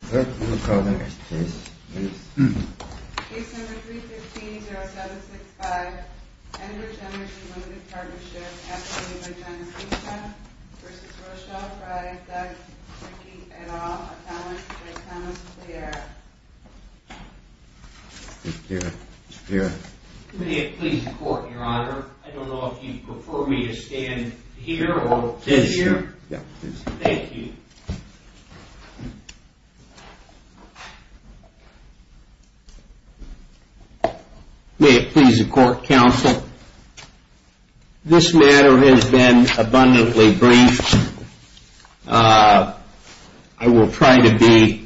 May it please the court, your honor. I don't know if you prefer me to stand here or here. Thank you. May it please the court, counsel. This matter has been abundantly briefed. I will try to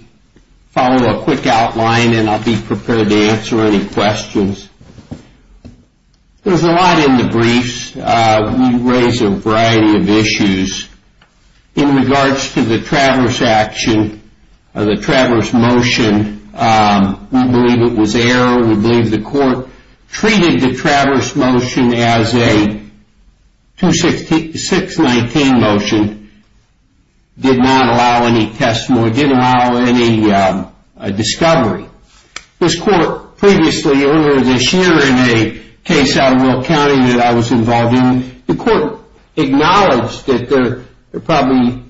follow a quick outline and I'll be prepared to answer any questions. There's a lot in the briefs. We raise a variety of issues. In regards to the Traverse motion, we believe it was error. We believe the court treated the Traverse motion as a 619 motion. It did not allow any testimony. It did not allow any discovery. This court previously, earlier this year in a case out of Will County that I was involved in, the court acknowledged that there probably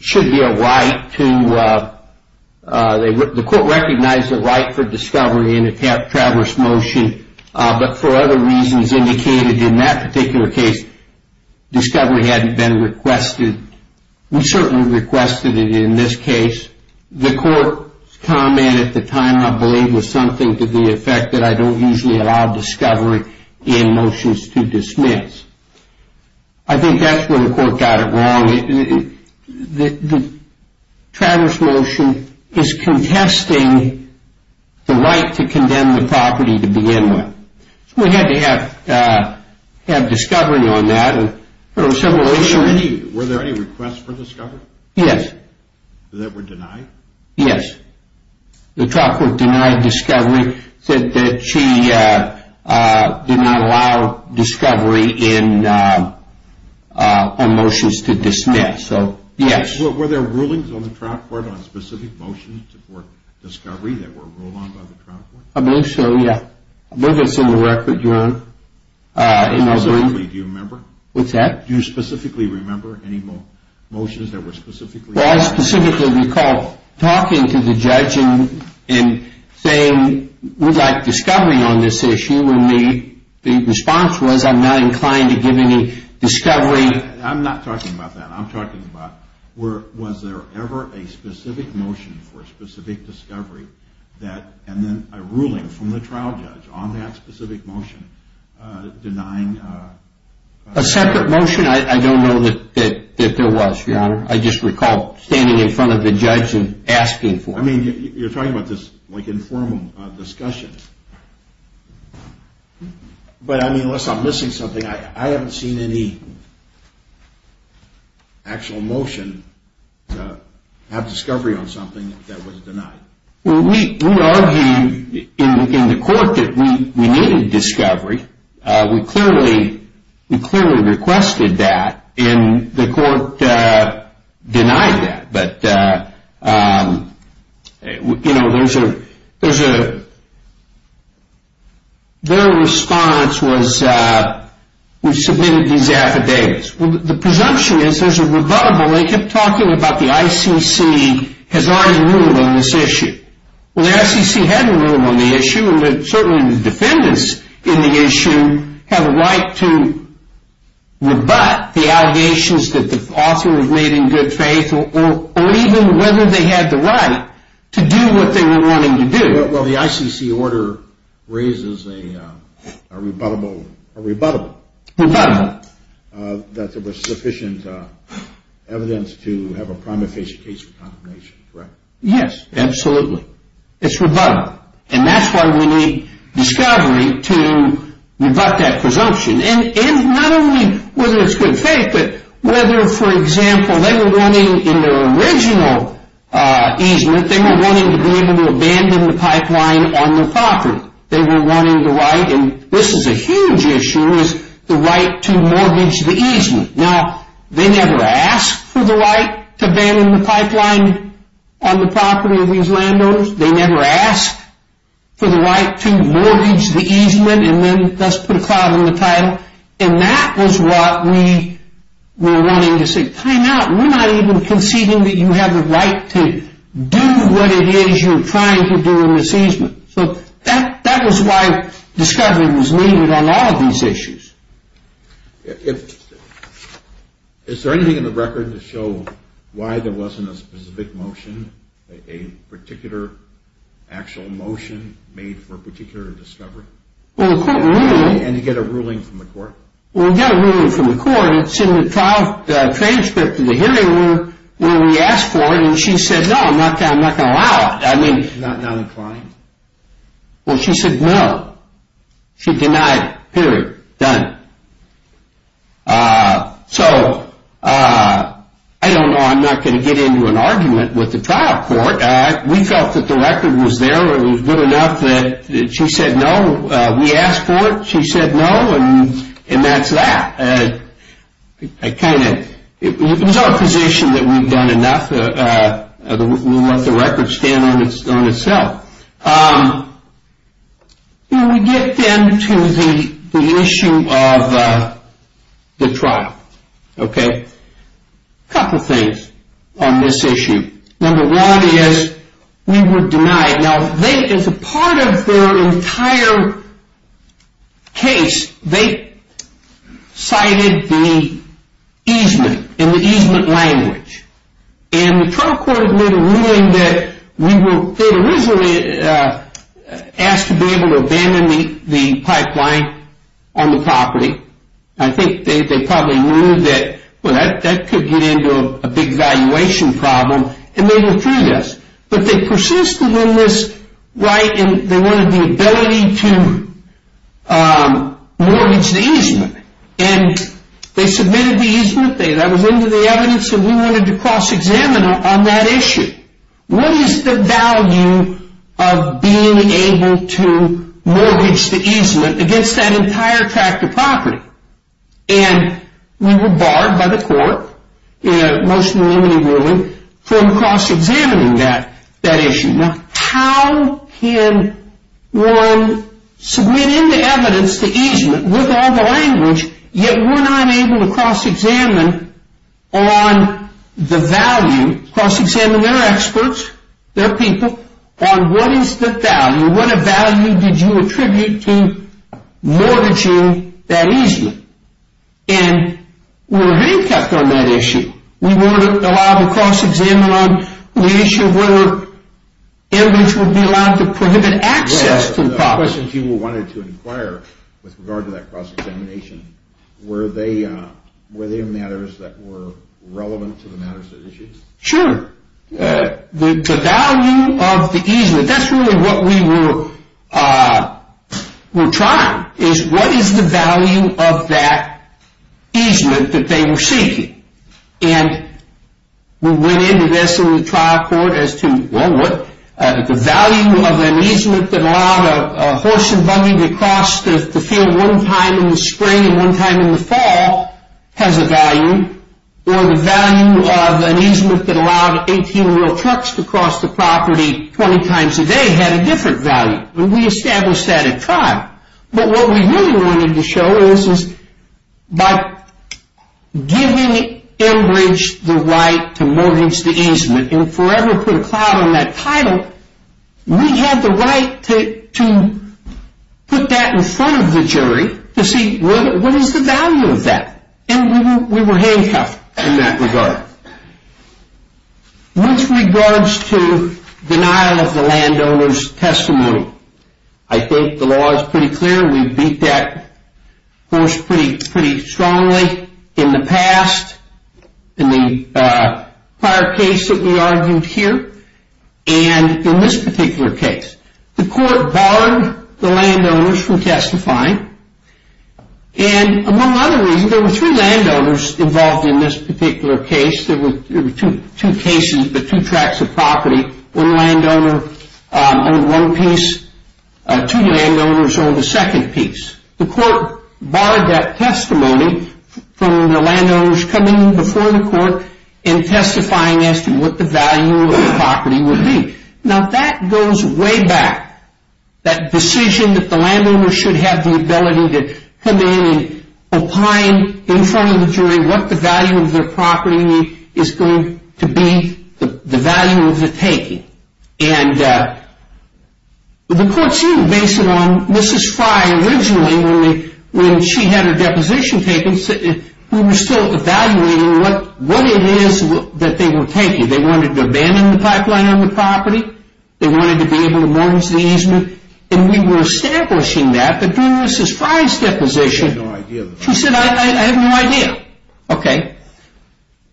should be a right to, the court recognized the right for discovery in a Traverse motion. But for other reasons indicated in that particular case, discovery hadn't been requested. We certainly requested it in this case. The court's comment at the time, I believe, was something to the effect that I don't usually allow discovery in motions to dismiss. I think that's where the court got it wrong. The Traverse motion is contesting the right to condemn the property to begin with. We had to have discovery on that. Were there any requests for discovery? Yes. The trial court denied discovery, said that she did not allow discovery in motions to dismiss. Yes. Were there rulings on the trial court on specific motions for discovery that were ruled on by the trial court? I believe so, yes. I believe it's in the record, Your Honor. Do you remember? What's that? Do you specifically remember any motions that were specifically? Well, I specifically recall talking to the judge and saying, we'd like discovery on this issue, and the response was, I'm not inclined to give any discovery. I'm not talking about that. I'm talking about, was there ever a specific motion for a specific discovery that, and then a ruling from the trial judge on that specific motion denying? A separate motion? I don't know that there was, Your Honor. I just recall standing in front of the judge and asking for it. I mean, you're talking about this, like, informal discussion. But I mean, unless I'm missing something, I haven't seen any actual motion to have discovery on something that was denied. Well, we argued in the court that we needed discovery. We clearly requested that, and the court denied that. But, you know, there's a, their response was, we submitted these affidavits. Well, the presumption is there's a rebuttable. They kept talking about the ICC has already ruled on this issue. Well, the ICC had a rule on the issue, and certainly the defendants in the issue have a right to rebut the allegations that the author has made in good faith, or even whether they had the right to do what they were wanting to do. Well, the ICC order raises a rebuttable. A rebuttable. Rebuttable. That there was sufficient evidence to have a prima facie case for condemnation, correct? Yes, absolutely. It's rebuttable. And that's why we need discovery to rebut that presumption. And not only whether it's good faith, but whether, for example, they were wanting in their original easement, they were wanting to be able to abandon the pipeline on their property. They were wanting the right, and this is a huge issue, is the right to mortgage the easement. Now, they never asked for the right to abandon the pipeline on the property of these landowners. They never asked for the right to mortgage the easement, and then thus put a cloud in the tidal. And that was what we were wanting to see. We're not even conceding that you have the right to do what it is you're trying to do in the easement. So that was why discovery was needed on all of these issues. Is there anything in the record to show why there wasn't a specific motion, a particular actual motion made for a particular discovery? And to get a ruling from the court? We asked for it. She said no, and that's that. It's our position that we've done enough. We want the record to stand on itself. We get then to the issue of the trial. A couple things on this issue. Number one is we were denied. Now, as a part of their entire case, they cited the easement in the easement language. And the trial court had made a ruling that they had originally asked to be able to abandon the pipeline on the property. I think they probably knew that that could get into a big valuation problem, and they withdrew this. But they persisted in this right, and they wanted the ability to mortgage the easement. And they submitted the easement. That was into the evidence, and we wanted to cross-examine on that issue. What is the value of being able to mortgage the easement against that entire tract of property? And we were barred by the court in a motion to eliminate ruling from cross-examining that issue. Now, how can one submit into evidence the easement with all the language, yet we're not able to cross-examine on the value, cross-examine their experts, their people, on what is the value, what value did you attribute to mortgaging that easement? And we were handcuffed on that issue. We weren't allowed to cross-examine on the issue of whether evidence would be allowed to prohibit access to the property. The questions you wanted to inquire with regard to that cross-examination, were they matters that were relevant to the matters at issue? Sure. The value of the easement, that's really what we were trying, is what is the value of that easement that they were seeking? And we went into this in the trial court as to, well, what, the value of an easement that allowed a horse and buggy to cross the field one time in the spring and one time in the fall has a value, or the value of an easement that allowed 18-wheel trucks to cross the property 20 times a day had a different value. And we established that at trial. But what we really wanted to show is, is by giving Enbridge the right to mortgage the easement and forever put a cloud on that title, we had the right to put that in front of the jury to see what is the value of that. And we were handcuffed in that regard. With regards to denial of the landowner's testimony, I think the law is pretty clear. We've beat that horse pretty strongly in the past, in the prior case that we argued here, and in this particular case. The court barred the landowners from testifying. And among other reasons, there were three landowners involved in this particular case. There were two cases, but two tracts of property. One landowner owned one piece. Two landowners owned a second piece. The court barred that testimony from the landowners coming before the court and testifying as to what the value of the property would be. Now that goes way back. That decision that the landowner should have the ability to come in and opine in front of the jury what the value of their property is going to be, the value of the taking. And the court, too, based it on Mrs. Frye. Originally, when she had her deposition taken, we were still evaluating what it is that they were taking. They wanted to abandon the pipeline on the property. They wanted to be able to mortgage the easement. And we were establishing that, but during Mrs. Frye's deposition, she said I have no idea.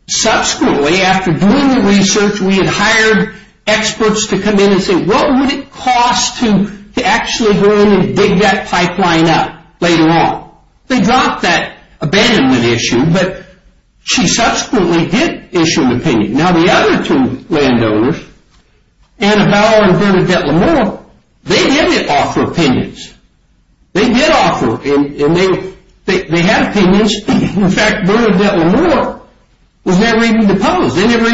Subsequently, after doing the research, we had hired experts to come in and say what would it cost to actually go in and dig that pipeline up later on. They dropped that abandonment issue, but she subsequently did issue an opinion. Now the other two landowners, Annabelle and Bernadette L'Amour, they didn't offer opinions. They did offer opinions, and they had opinions. In fact, Bernadette L'Amour was never even deposed. They never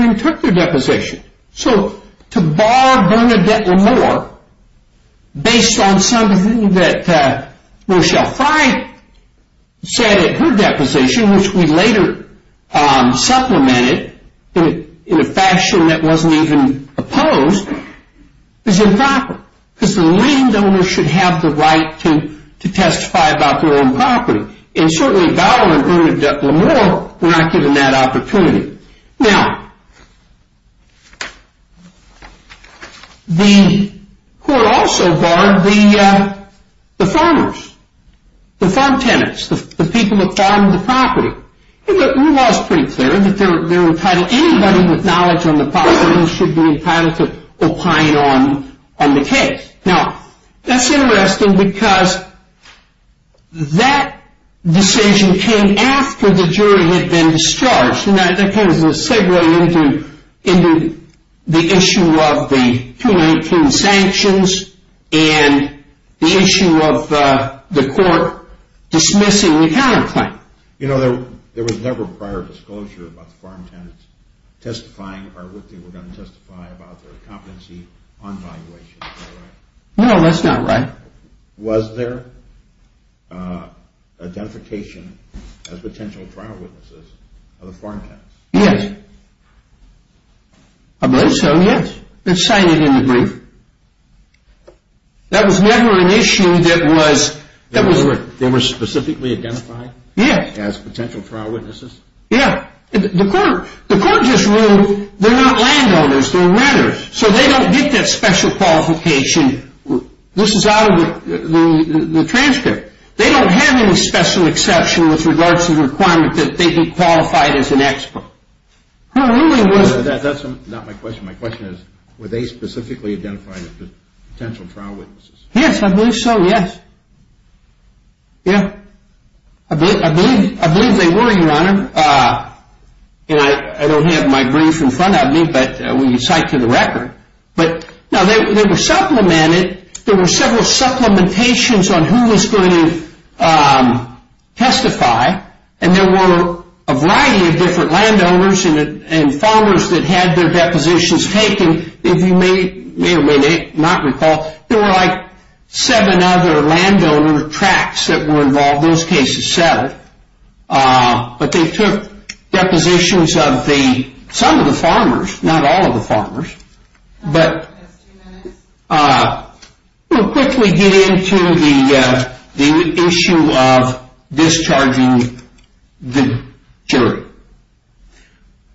even took their deposition. So to bar Bernadette L'Amour based on something that Michelle Frye said at her deposition, which we later supplemented in a fashion that wasn't even opposed, is improper because the landowners should have the right to testify about their own property. And certainly Bowman and Bernadette L'Amour were not given that opportunity. Now, the court also barred the farmers, the farm tenants, the people that farm the property. The rule of law is pretty clear that anybody with knowledge on the property should be entitled to opine on the case. Now, that's interesting because that decision came after the jury had been discharged, and that came as a segue into the issue of the 2018 sanctions and the issue of the court dismissing the counterclaim. There was never prior disclosure about the farm tenants testifying or what they were going to testify about their competency on valuation. No, that's not right. Was there identification as potential trial witnesses of the farm tenants? Yes. I believe so, yes. It's cited in the brief. That was never an issue that was... They were specifically identified? Yes. As potential trial witnesses? Yes. The court just ruled they're not landowners, they're renters, so they don't get that special qualification. This is out of the transcript. They don't have any special exception with regards to the requirement that they be qualified as an expert. That's not my question. My question is, were they specifically identified as potential trial witnesses? Yes, I believe so, yes. I believe they were, Your Honor. I don't have my brief in front of me, but we can cite to the record. Now, they were supplemented. There were several supplementations on who was going to testify, and there were a variety of different landowners and farmers that had their depositions taken. If you may or may not recall, there were seven other landowner tracts that were involved. All those cases settled, but they took depositions of some of the farmers, not all of the farmers, but we'll quickly get into the issue of discharging the jury.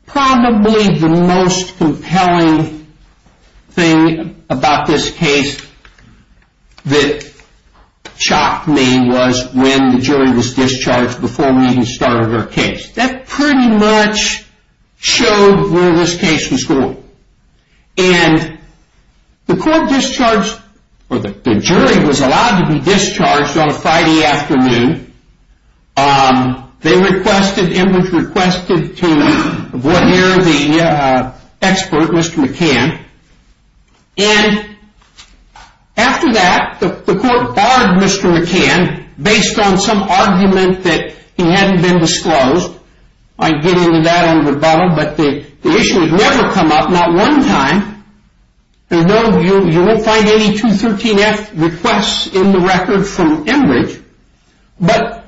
Probably the most compelling thing about this case that shocked me was when the jury was discharged before we even started our case. That pretty much showed where this case was going. The court discharged, or the jury was allowed to be discharged on a Friday afternoon. It was requested to revere the expert, Mr. McCann. After that, the court barred Mr. McCann based on some argument that he hadn't been disclosed. I can get into that on the rebuttal, but the issue had never come up, not one time. You won't find any 213F requests in the record from Enbridge, but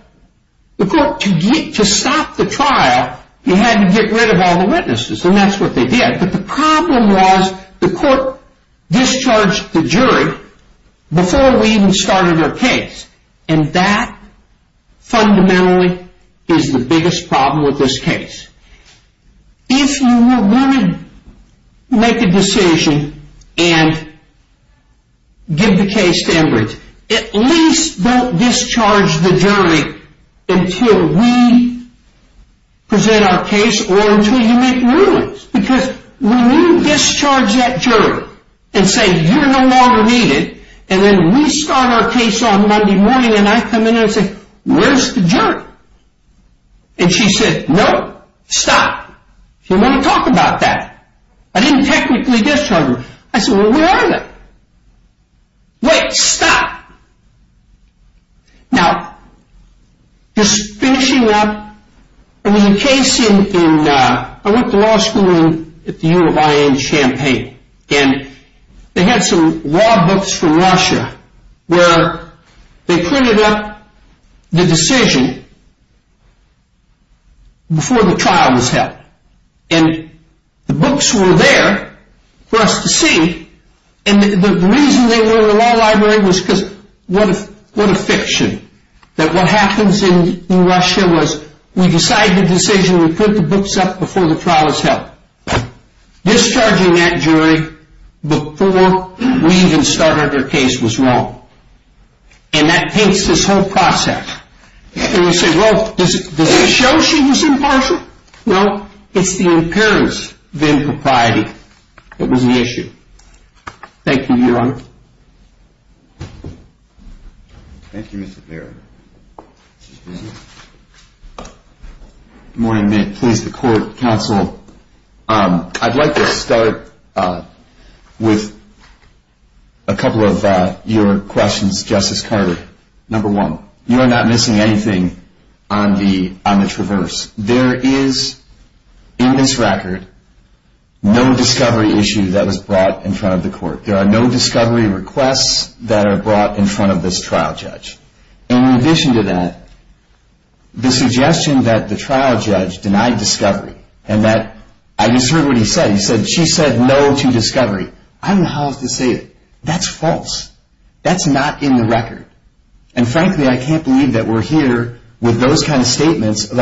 the court, to stop the trial, you had to get rid of all the witnesses, and that's what they did. The problem was the court discharged the jury before we even started our case, and that fundamentally is the biggest problem with this case. If you were willing to make a decision and give the case to Enbridge, at least don't discharge the jury until we present our case or until you make your ruling. Because when you discharge that jury and say, you're no longer needed, and then we start our case on Monday morning and I come in and say, where's the jury? And she said, no, stop. She didn't want to talk about that. I didn't technically discharge her. I said, well, where are they? Wait, stop. Now, just finishing up, there was a case in, I went to law school at the U of I in Champaign, and they had some law books from Russia where they printed up the decision before the trial was held. And the books were there for us to see, and the reason they were in the law library was because what a fiction, that what happens in Russia was we decide the decision, we put the books up before the trial is held. Discharging that jury before we even started our case was wrong, and that paints this whole process. And you say, well, does it show she was impartial? Well, it's the imperious, the impropriety that was the issue. Thank you, Your Honor. Thank you, Mr. Barrett. Good morning. May it please the court, counsel. I'd like to start with a couple of your questions, Justice Carter. Number one, you are not missing anything on the traverse. There is in this record no discovery issue that was brought in front of the court. There are no discovery requests that are brought in front of this trial judge. And in addition to that, the suggestion that the trial judge denied discovery and that I just heard what he said. He said she said no to discovery. I don't know how else to say it. That's false. That's not in the record. And frankly, I can't believe that we're here with those kind of statements. It's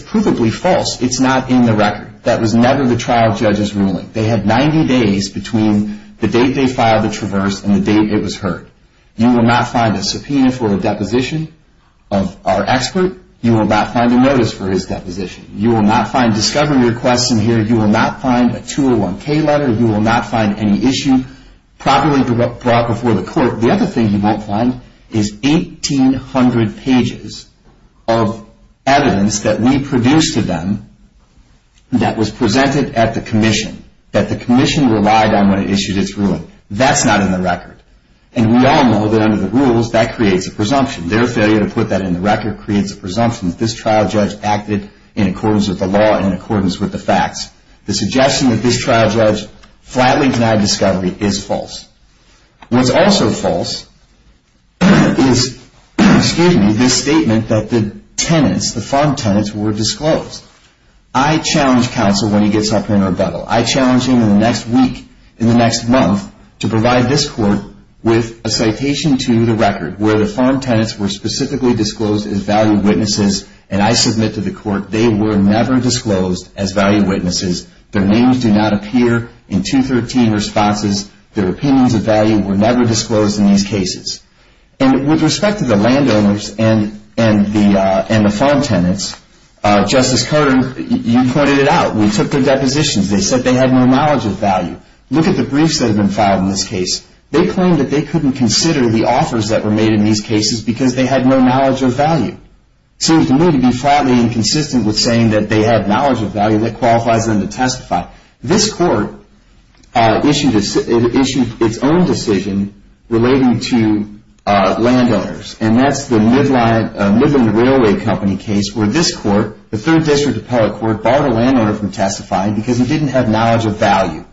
provably false. It's not in the record. That was never the trial judge's ruling. They had 90 days between the date they filed the traverse and the date it was heard. You will not find a subpoena for a deposition of our expert. You will not find a notice for his deposition. You will not find discovery requests in here. You will not find a 201K letter. You will not find any issue properly brought before the court. The other thing you won't find is 1,800 pages of evidence that we produced to them that was presented at the commission, that the commission relied on when it issued its ruling. That's not in the record. And we all know that under the rules, that creates a presumption. Their failure to put that in the record creates a presumption that this trial judge acted in accordance with the law and in accordance with the facts. The suggestion that this trial judge flatly denied discovery is false. What's also false is this statement that the tenants, the farm tenants, were disclosed. I challenge counsel when he gets up here in rebuttal. I challenge him in the next week, in the next month, to provide this court with a citation to the record where the farm tenants were specifically disclosed as value witnesses, and I submit to the court they were never disclosed as value witnesses. Their names do not appear in 213 responses. Their opinions of value were never disclosed in these cases. And with respect to the landowners and the farm tenants, Justice Carter, you pointed it out. We took their depositions. They said they had no knowledge of value. Look at the briefs that have been filed in this case. They claim that they couldn't consider the offers that were made in these cases because they had no knowledge of value. Seems to me to be flatly inconsistent with saying that they had knowledge of value that qualifies them to testify. This court issued its own decision relating to landowners, and that's the Midland Railway Company case where this court, the Third District Appellate Court, barred a landowner from testifying because he didn't have knowledge of value.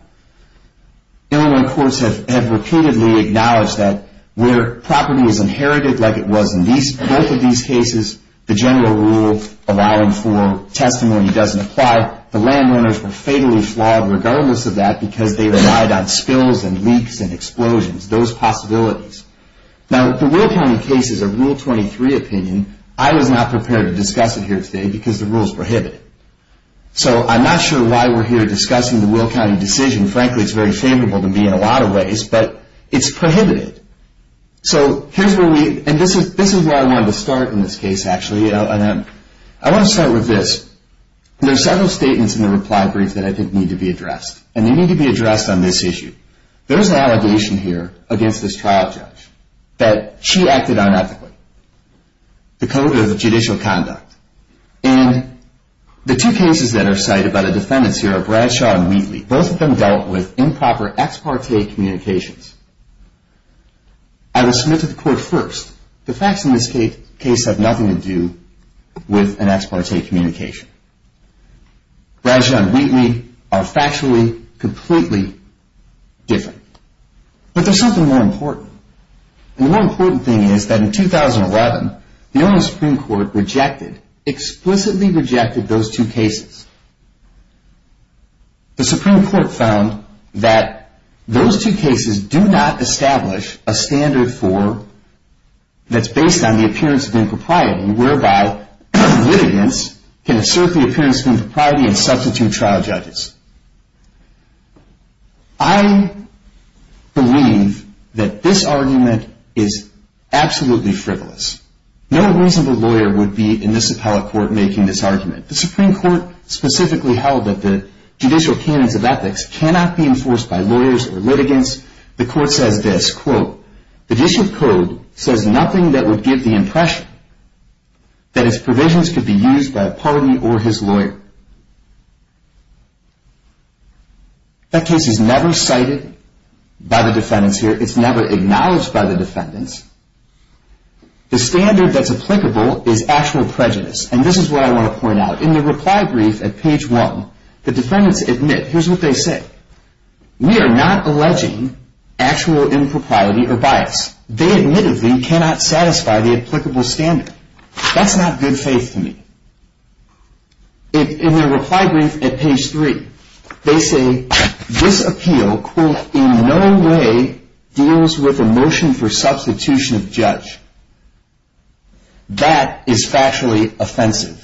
Illinois courts have repeatedly acknowledged that where property is inherited like it was in both of these cases, the general rule allowing for testimony doesn't apply. Now, the landowners were fatally flogged regardless of that because they relied on spills and leaks and explosions, those possibilities. Now, the Will County case is a Rule 23 opinion. I was not prepared to discuss it here today because the rule is prohibited. So I'm not sure why we're here discussing the Will County decision. Frankly, it's very favorable to me in a lot of ways, but it's prohibited. So here's where we, and this is where I wanted to start in this case, actually. I want to start with this. There are several statements in the reply brief that I think need to be addressed, and they need to be addressed on this issue. There is an allegation here against this trial judge that she acted unethically, the code of judicial conduct. And the two cases that are cited by the defendants here are Bradshaw and Wheatley. Both of them dealt with improper ex parte communications. I will submit to the court first. The facts in this case have nothing to do with an ex parte communication. Bradshaw and Wheatley are factually completely different. But there's something more important. And the more important thing is that in 2011, the Ohio Supreme Court rejected, explicitly rejected those two cases. The Supreme Court found that those two cases do not establish a standard for, that's based on the appearance of impropriety, whereby litigants can assert the appearance of impropriety and substitute trial judges. I believe that this argument is absolutely frivolous. No reasonable lawyer would be in this appellate court making this argument. The Supreme Court specifically held that the judicial canons of ethics cannot be enforced by lawyers or litigants. The court says this, quote, the district code says nothing that would give the impression that its provisions could be used by a party or his lawyer. That case is never cited by the defendants here. It's never acknowledged by the defendants. The standard that's applicable is actual prejudice. And this is what I want to point out. In the reply brief at page one, the defendants admit, here's what they say. We are not alleging actual impropriety or bias. They admittedly cannot satisfy the applicable standard. That's not good faith to me. In their reply brief at page three, they say this appeal, quote, in no way deals with a motion for substitution of judge. That is factually offensive.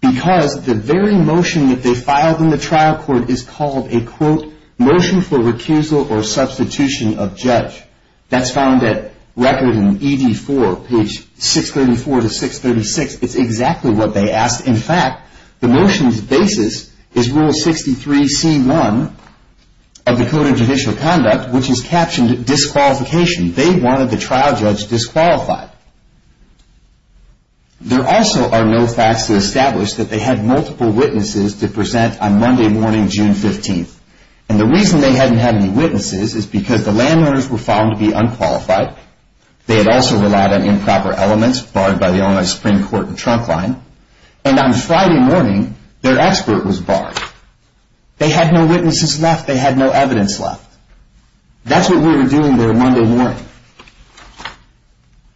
Because the very motion that they filed in the trial court is called a, quote, motion for recusal or substitution of judge. That's found at record in ED4, page 634 to 636. It's exactly what they asked. In fact, the motion's basis is Rule 63c1 of the Code of Judicial Conduct, which is captioned disqualification. They wanted the trial judge disqualified. There also are no facts to establish that they had multiple witnesses to present on Monday morning, June 15th. And the reason they hadn't had any witnesses is because the landowners were found to be unqualified. They had also relied on improper elements barred by the Illinois Supreme Court and trunk line. And on Friday morning, their expert was barred. They had no witnesses left. They had no evidence left. That's what we were doing their Monday morning.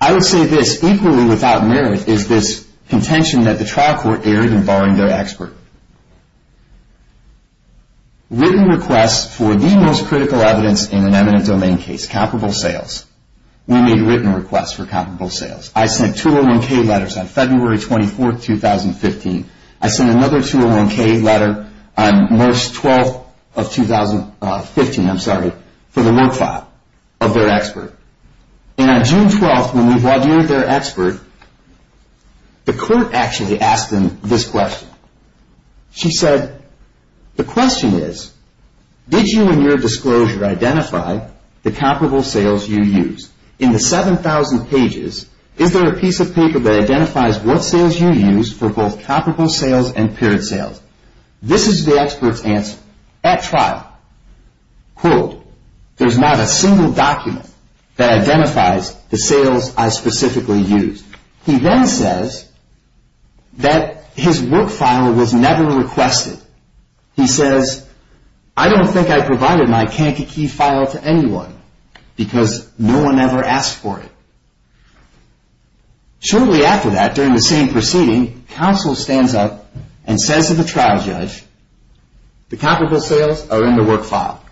I would say this. Equally without merit is this contention that the trial court erred in barring their expert. Written requests for the most critical evidence in an eminent domain case, comparable sales. We made written requests for comparable sales. I sent 201K letters on February 24th, 2015. I sent another 201K letter on March 12th of 2015, I'm sorry, for the work file of their expert. And on June 12th, when we've audited their expert, the court actually asked them this question. She said, the question is, did you in your disclosure identify the comparable sales you used? In the 7,000 pages, is there a piece of paper that identifies what sales you used for both comparable sales and paired sales? This is the expert's answer. At trial, quote, there's not a single document that identifies the sales I specifically used. He then says that his work file was never requested. He says, I don't think I provided my Kankakee file to anyone because no one ever asked for it. Shortly after that, during the same proceeding, counsel stands up and says to the trial judge, the comparable sales are in the work file.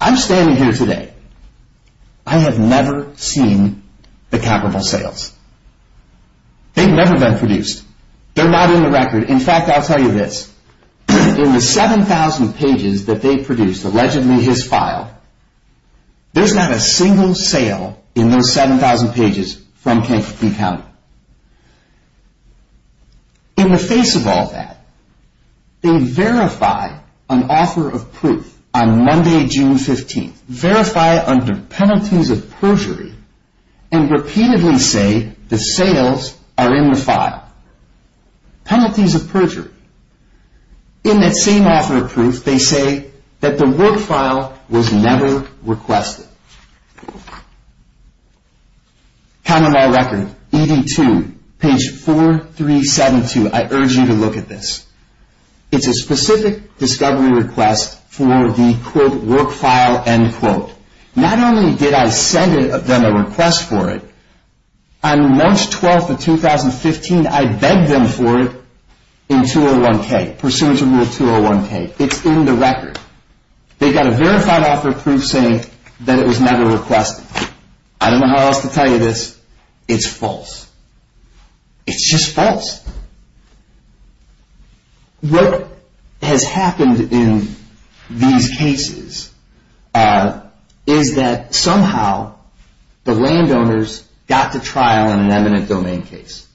I'm standing here today. I have never seen the comparable sales. They've never been produced. They're not in the record. In fact, I'll tell you this. In the 7,000 pages that they produced, allegedly his file, there's not a single sale in those 7,000 pages from Kankakee County. In the face of all that, they verify an offer of proof on Monday, June 15th. Verify under penalties of perjury and repeatedly say the sales are in the file. Penalties of perjury. In that same offer of proof, they say that the work file was never requested. Count them all record. ED2, page 4372. I urge you to look at this. It's a specific discovery request for the, quote, work file, end quote. Not only did I send them a request for it, on March 12th of 2015, I begged them for it in 201K, pursuant to Rule 201K. It's in the record. They got a verified offer of proof saying that it was never requested. I don't know how else to tell you this. It's false. It's just false. What has happened in these cases is that somehow the landowners got to trial in an eminent domain case.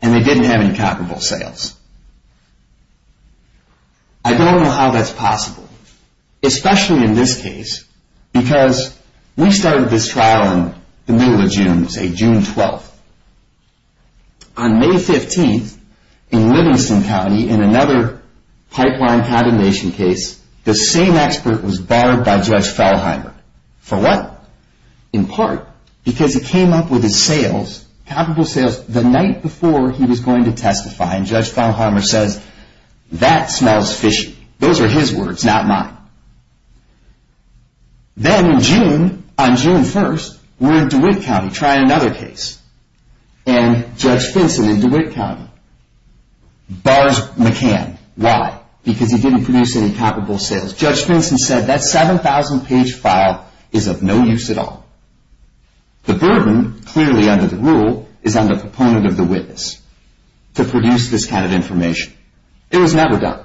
And they didn't have any comparable sales. I don't know how that's possible, especially in this case, because we started this trial in the middle of June, say June 12th. On May 15th, in Livingston County, in another pipeline contamination case, the same expert was barred by Judge Fellheimer. For what? In part, because he came up with his sales, comparable sales, the night before he was going to testify. And Judge Fellheimer says, that smells fishy. Those are his words, not mine. Then in June, on June 1st, we're in DeWitt County trying another case. And Judge Finson in DeWitt County bars McCann. Why? Because he didn't produce any comparable sales. Judge Finson said that 7,000-page file is of no use at all. The burden, clearly under the rule, is on the proponent of the witness to produce this kind of information. It was never done.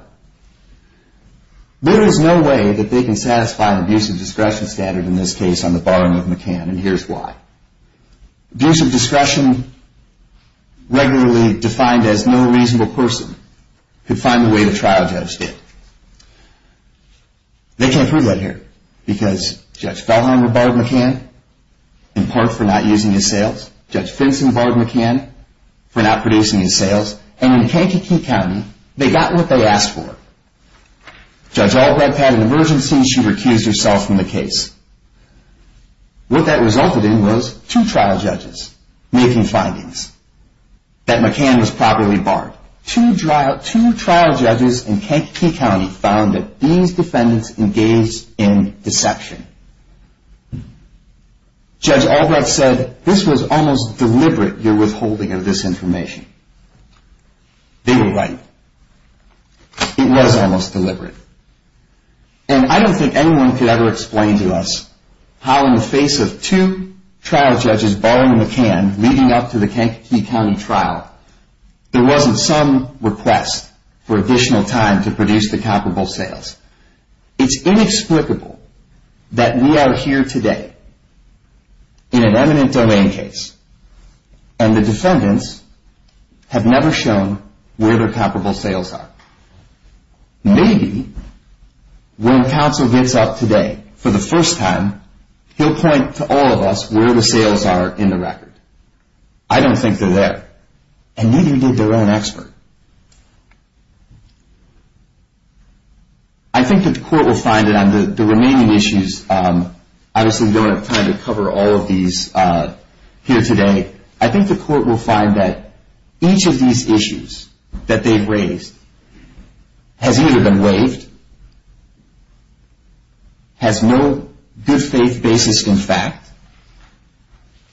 There is no way that they can satisfy an abusive discretion standard in this case on the barring of McCann, and here's why. Abusive discretion, regularly defined as no reasonable person, could find the way the trial judge did. They can't prove that here. Because Judge Fellheimer barred McCann, in part for not using his sales. Judge Finson barred McCann for not producing his sales. And in Kankakee County, they got what they asked for. Judge Albrecht had an emergency, she recused herself from the case. What that resulted in was two trial judges making findings. That McCann was properly barred. Two trial judges in Kankakee County found that these defendants engaged in deception. Judge Albrecht said, this was almost deliberate, your withholding of this information. They were right. It was almost deliberate. And I don't think anyone could ever explain to us how, in the face of two trial judges barring McCann, leading up to the Kankakee County trial, there wasn't some request for additional time to produce the comparable sales. It's inexplicable that we are here today, in an eminent domain case, and the defendants have never shown where their comparable sales are. Maybe when counsel gets up today for the first time, he'll point to all of us where the sales are in the record. I don't think they're there. And neither did their own expert. I think that the court will find that on the remaining issues, obviously we don't have time to cover all of these here today, I think the court will find that each of these issues that they've raised has either been waived, has no good faith basis in fact,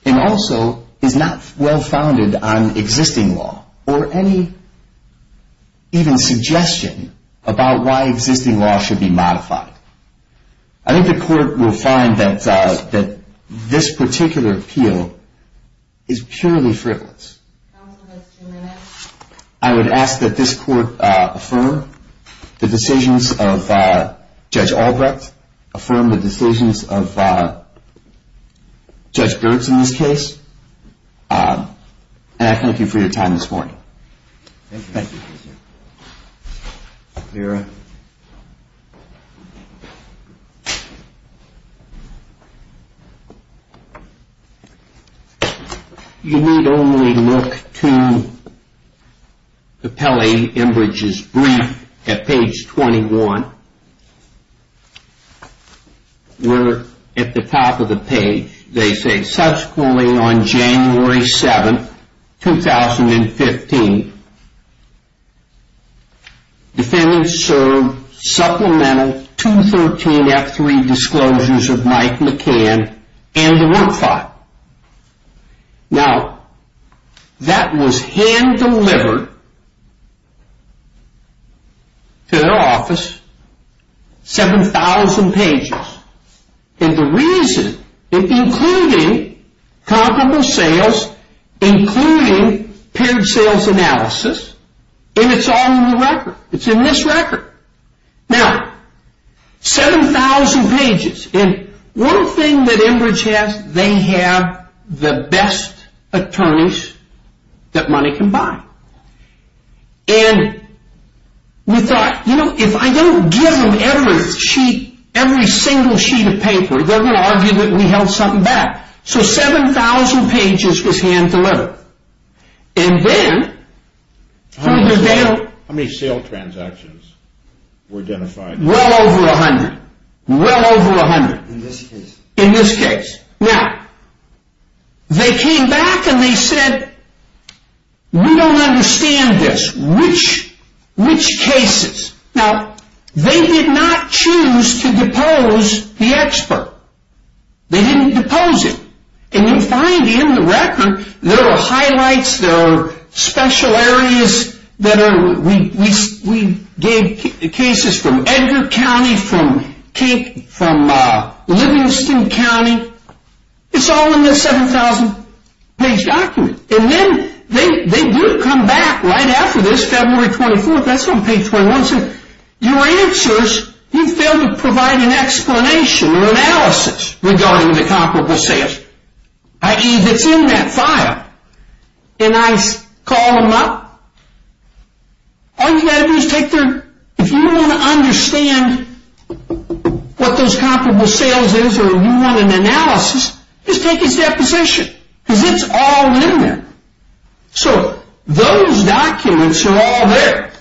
and also is not well founded on existing law, or any even suggestion about why existing law should be modified. I think the court will find that this particular appeal is purely frivolous. I would ask that this court affirm the decisions of Judge Albrecht, affirm the decisions of Judge Birx in this case, and I thank you for your time this morning. Thank you. Vera. You need only look to Capelli-Embridge's brief at page 21, where at the top of the page they say, Subsequently on January 7, 2015, defendants served supplemental 213 F3 disclosures of Mike McCann and the work file. Now, that was hand-delivered to their office, 7,000 pages. And the reason, including comparable sales, including paired sales analysis, and it's on the record, it's in this record. Now, 7,000 pages, and one thing that Enbridge has, they have the best attorneys that money can buy. And we thought, you know, if I don't give them every sheet, every single sheet of paper, they're going to argue that we held something back. So 7,000 pages was hand-delivered. And then, How many sale transactions were identified? Well over 100. Well over 100. In this case? In this case. Now, they came back and they said, We don't understand this. Which cases? Now, they did not choose to depose the expert. They didn't depose him. And you find in the record, there are highlights, there are special areas that are, we gave cases from Edgar County, from Livingston County. It's all in this 7,000-page document. And then, they do come back right after this, February 24th, that's on page 21, Your answers, you fail to provide an explanation or analysis regarding the comparable sales. I.e., if it's in that file, and I call them up, all you've got to do is take their, if you want to understand what those comparable sales is or you want an analysis, just take his deposition. Because it's all in there. So, those documents are all there.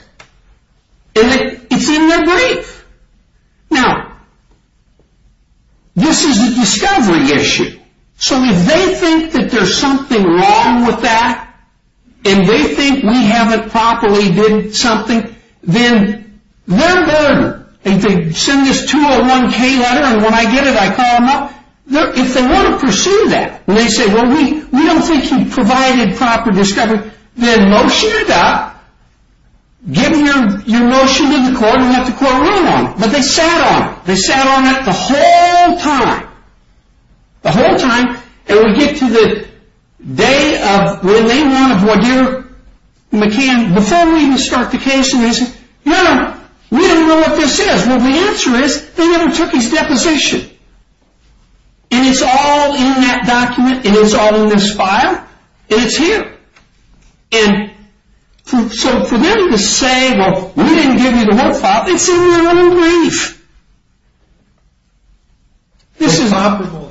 And it's in their brief. Now, this is a discovery issue. So, if they think that there's something wrong with that, and they think we haven't properly did something, then they're burdened. If they send this 201-K letter, and when I get it, I call them up. If they want to pursue that, and they say, Well, we don't think you've provided proper discovery, then motion it up. Give your motion to the court and let the court rule on it. But they sat on it. They sat on it the whole time. The whole time. And we get to the day of, the day one of what your, McCann, before we even start the case, and they say, No, no, we don't know what this is. Well, the answer is, they never took his deposition. And it's all in that document. And it's all in this file. And it's here. And so, for them to say, Well, we didn't give you the whole file. It's in your own brief. This is...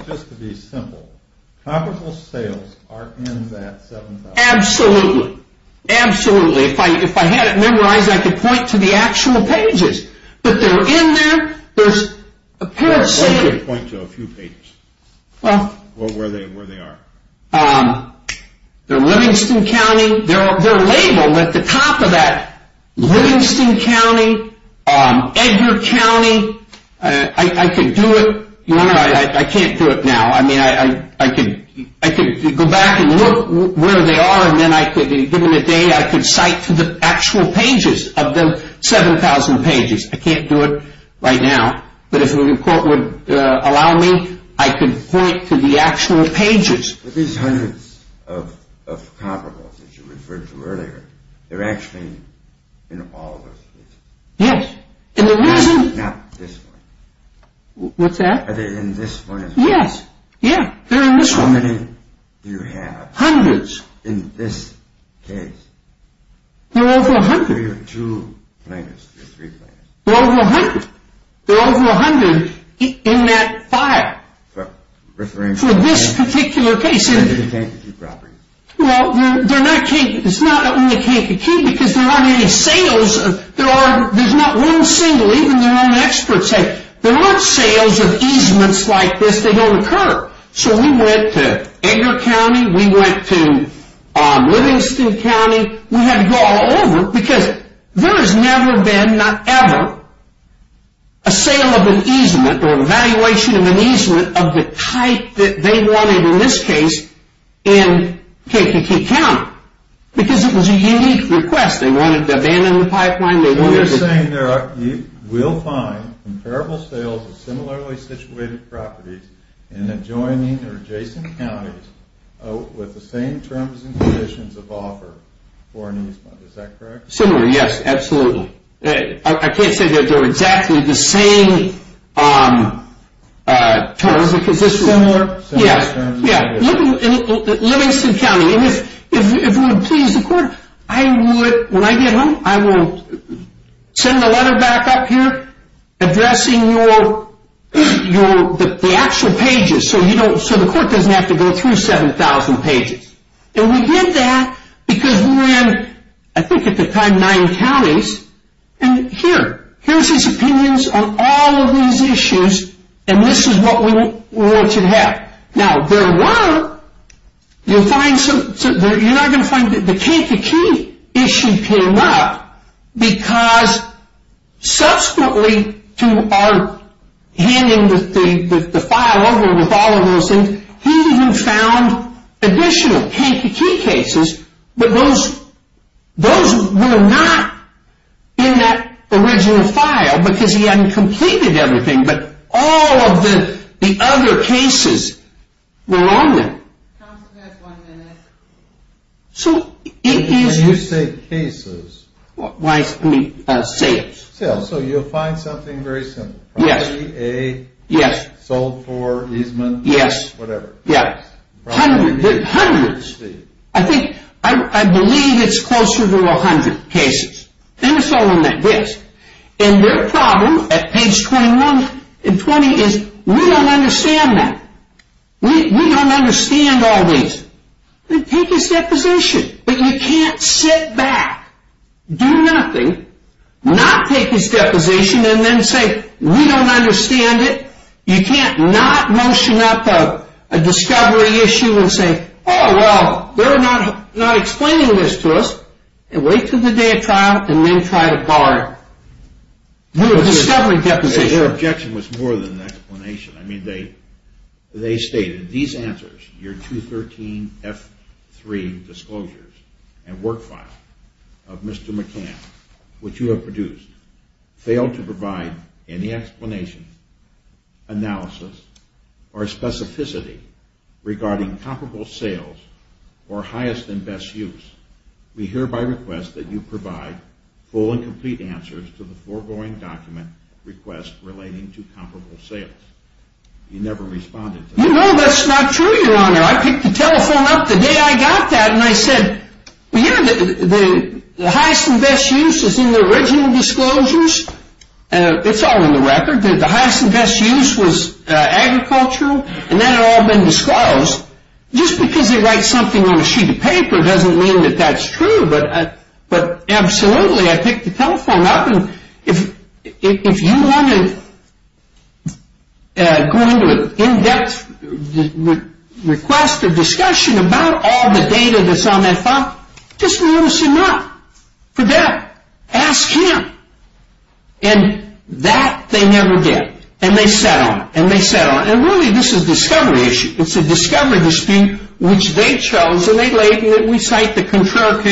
Just to be simple. Comparable sales are in that 7,000. Absolutely. Absolutely. If I had it memorized, I could point to the actual pages. But they're in there. There's a pair of CDs. They're supposed to point to a few pages. Well... Or where they are. They're Livingston County. They're labeled at the top of that. Livingston County. Edgar County. I could do it. I can't do it now. I mean, I could go back and look where they are. And then I could, given the day, I could cite to the actual pages of the 7,000 pages. I can't do it right now. But if the report would allow me, I could point to the actual pages. But these hundreds of comparables that you referred to earlier, they're actually in all of those cases. Yes. And the reason... Not this one. What's that? Are they in this one as well? Yes. Yeah. They're in this one. How many do you have? Hundreds. In this case? They're over a hundred. They're your two plaintiffs, your three plaintiffs. They're over a hundred. They're over a hundred in that file. Referring to... For this particular case. They're the Kankakee property. Well, they're not Kankakee. It's not only Kankakee because there aren't any sales. There's not one single, even their own experts say, there aren't sales of easements like this. They don't occur. So we went to Edgar County. We went to Livingston County. We had to go all over because there has never been, not ever, a sale of an easement or an evaluation of an easement of the type that they wanted in this case in Kankakee County because it was a unique request. They wanted to abandon the pipeline. They wanted to... So you're saying there are, you will find comparable sales of similarly situated properties in adjoining or adjacent counties with the same terms and conditions of offer for an easement. Is that correct? Similar, yes, absolutely. I can't say they're exactly the same terms. Similar terms. Yeah. Livingston County. If you would please, the court, I would, when I get home, I will send the letter back up here addressing the actual pages so the court doesn't have to go through 7,000 pages. And we did that because we ran, I think at the time, nine counties. And here, here's his opinions on all of these issues, and this is what we wanted to have. Now, there were, you'll find some, you're not going to find that the Kankakee issue came up because subsequently to our handing the file over with all of those things, he even found additional Kankakee cases, but those were not in that original file because he hadn't completed everything, but all of the other cases were on there. Counsel, you have one minute. So it is. When you say cases. Why? Sales. Sales. So you'll find something very simple. Yes. Property A. Yes. Sold for easement. Yes. Whatever. Yeah. Hundreds. I think, I believe it's closer to 100 cases. And it's all on that disk. And their problem at page 21 and 20 is we don't understand that. We don't understand all these. Then take his deposition. But you can't sit back, do nothing, not take his deposition, and then say we don't understand it. You can't not motion up a discovery issue and say, oh, well, they're not explaining this to us, and wait until the day of trial, and then try to bar a discovery deposition. The objection was more than an explanation. I mean, they stated these answers, your 213F3 disclosures and work file of Mr. McCann, which you have produced, failed to provide any explanation, analysis, or specificity regarding comparable sales or highest and best use. We hereby request that you provide full and complete answers to the foregoing document request relating to comparable sales. You never responded to that. No, that's not true, your Honor. I picked the telephone up the day I got that, and I said, the highest and best use is in the original disclosures. It's all in the record. The highest and best use was agricultural, and that had all been disclosed. Just because they write something on a sheet of paper doesn't mean that that's true. But absolutely, I picked the telephone up, If you want to go into an in-depth request or discussion about all the data that's on that file, just notice him up for that. Ask him. And that, they never did. And they sat on it, and they sat on it. And really, this is a discovery issue. It's a discovery dispute which they chose, and we cite the Contrar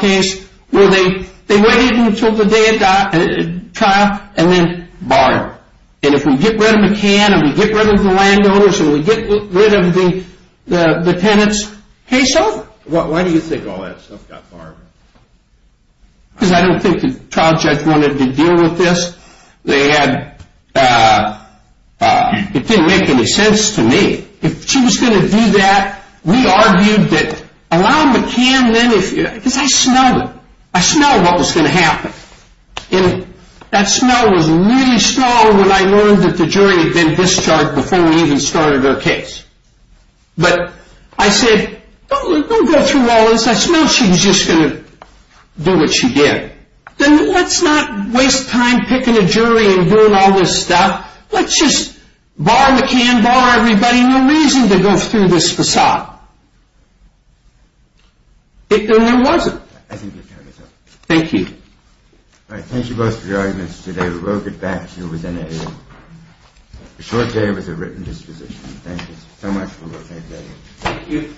case, where they waited until the day of trial, and then barred. And if we get rid of McCann, and we get rid of the landowners, and we get rid of the tenants, case over. Why do you think all that stuff got barred? Because I don't think the trial judge wanted to deal with this. They had, it didn't make any sense to me. If she was going to do that, we argued that allowing McCann, because I smelled it. I smelled what was going to happen. And that smell was really strong when I learned that the jury had been discharged before we even started our case. But I said, don't go through all this. I smelled she was just going to do what she did. Then let's not waste time picking a jury and doing all this stuff. Let's just bar McCann, bar everybody. No reason to go through this facade. And there wasn't. Thank you. Thank you both for your arguments today. We'll get back to you within a short day with a written disposition. Thank you so much for looking. Thank you.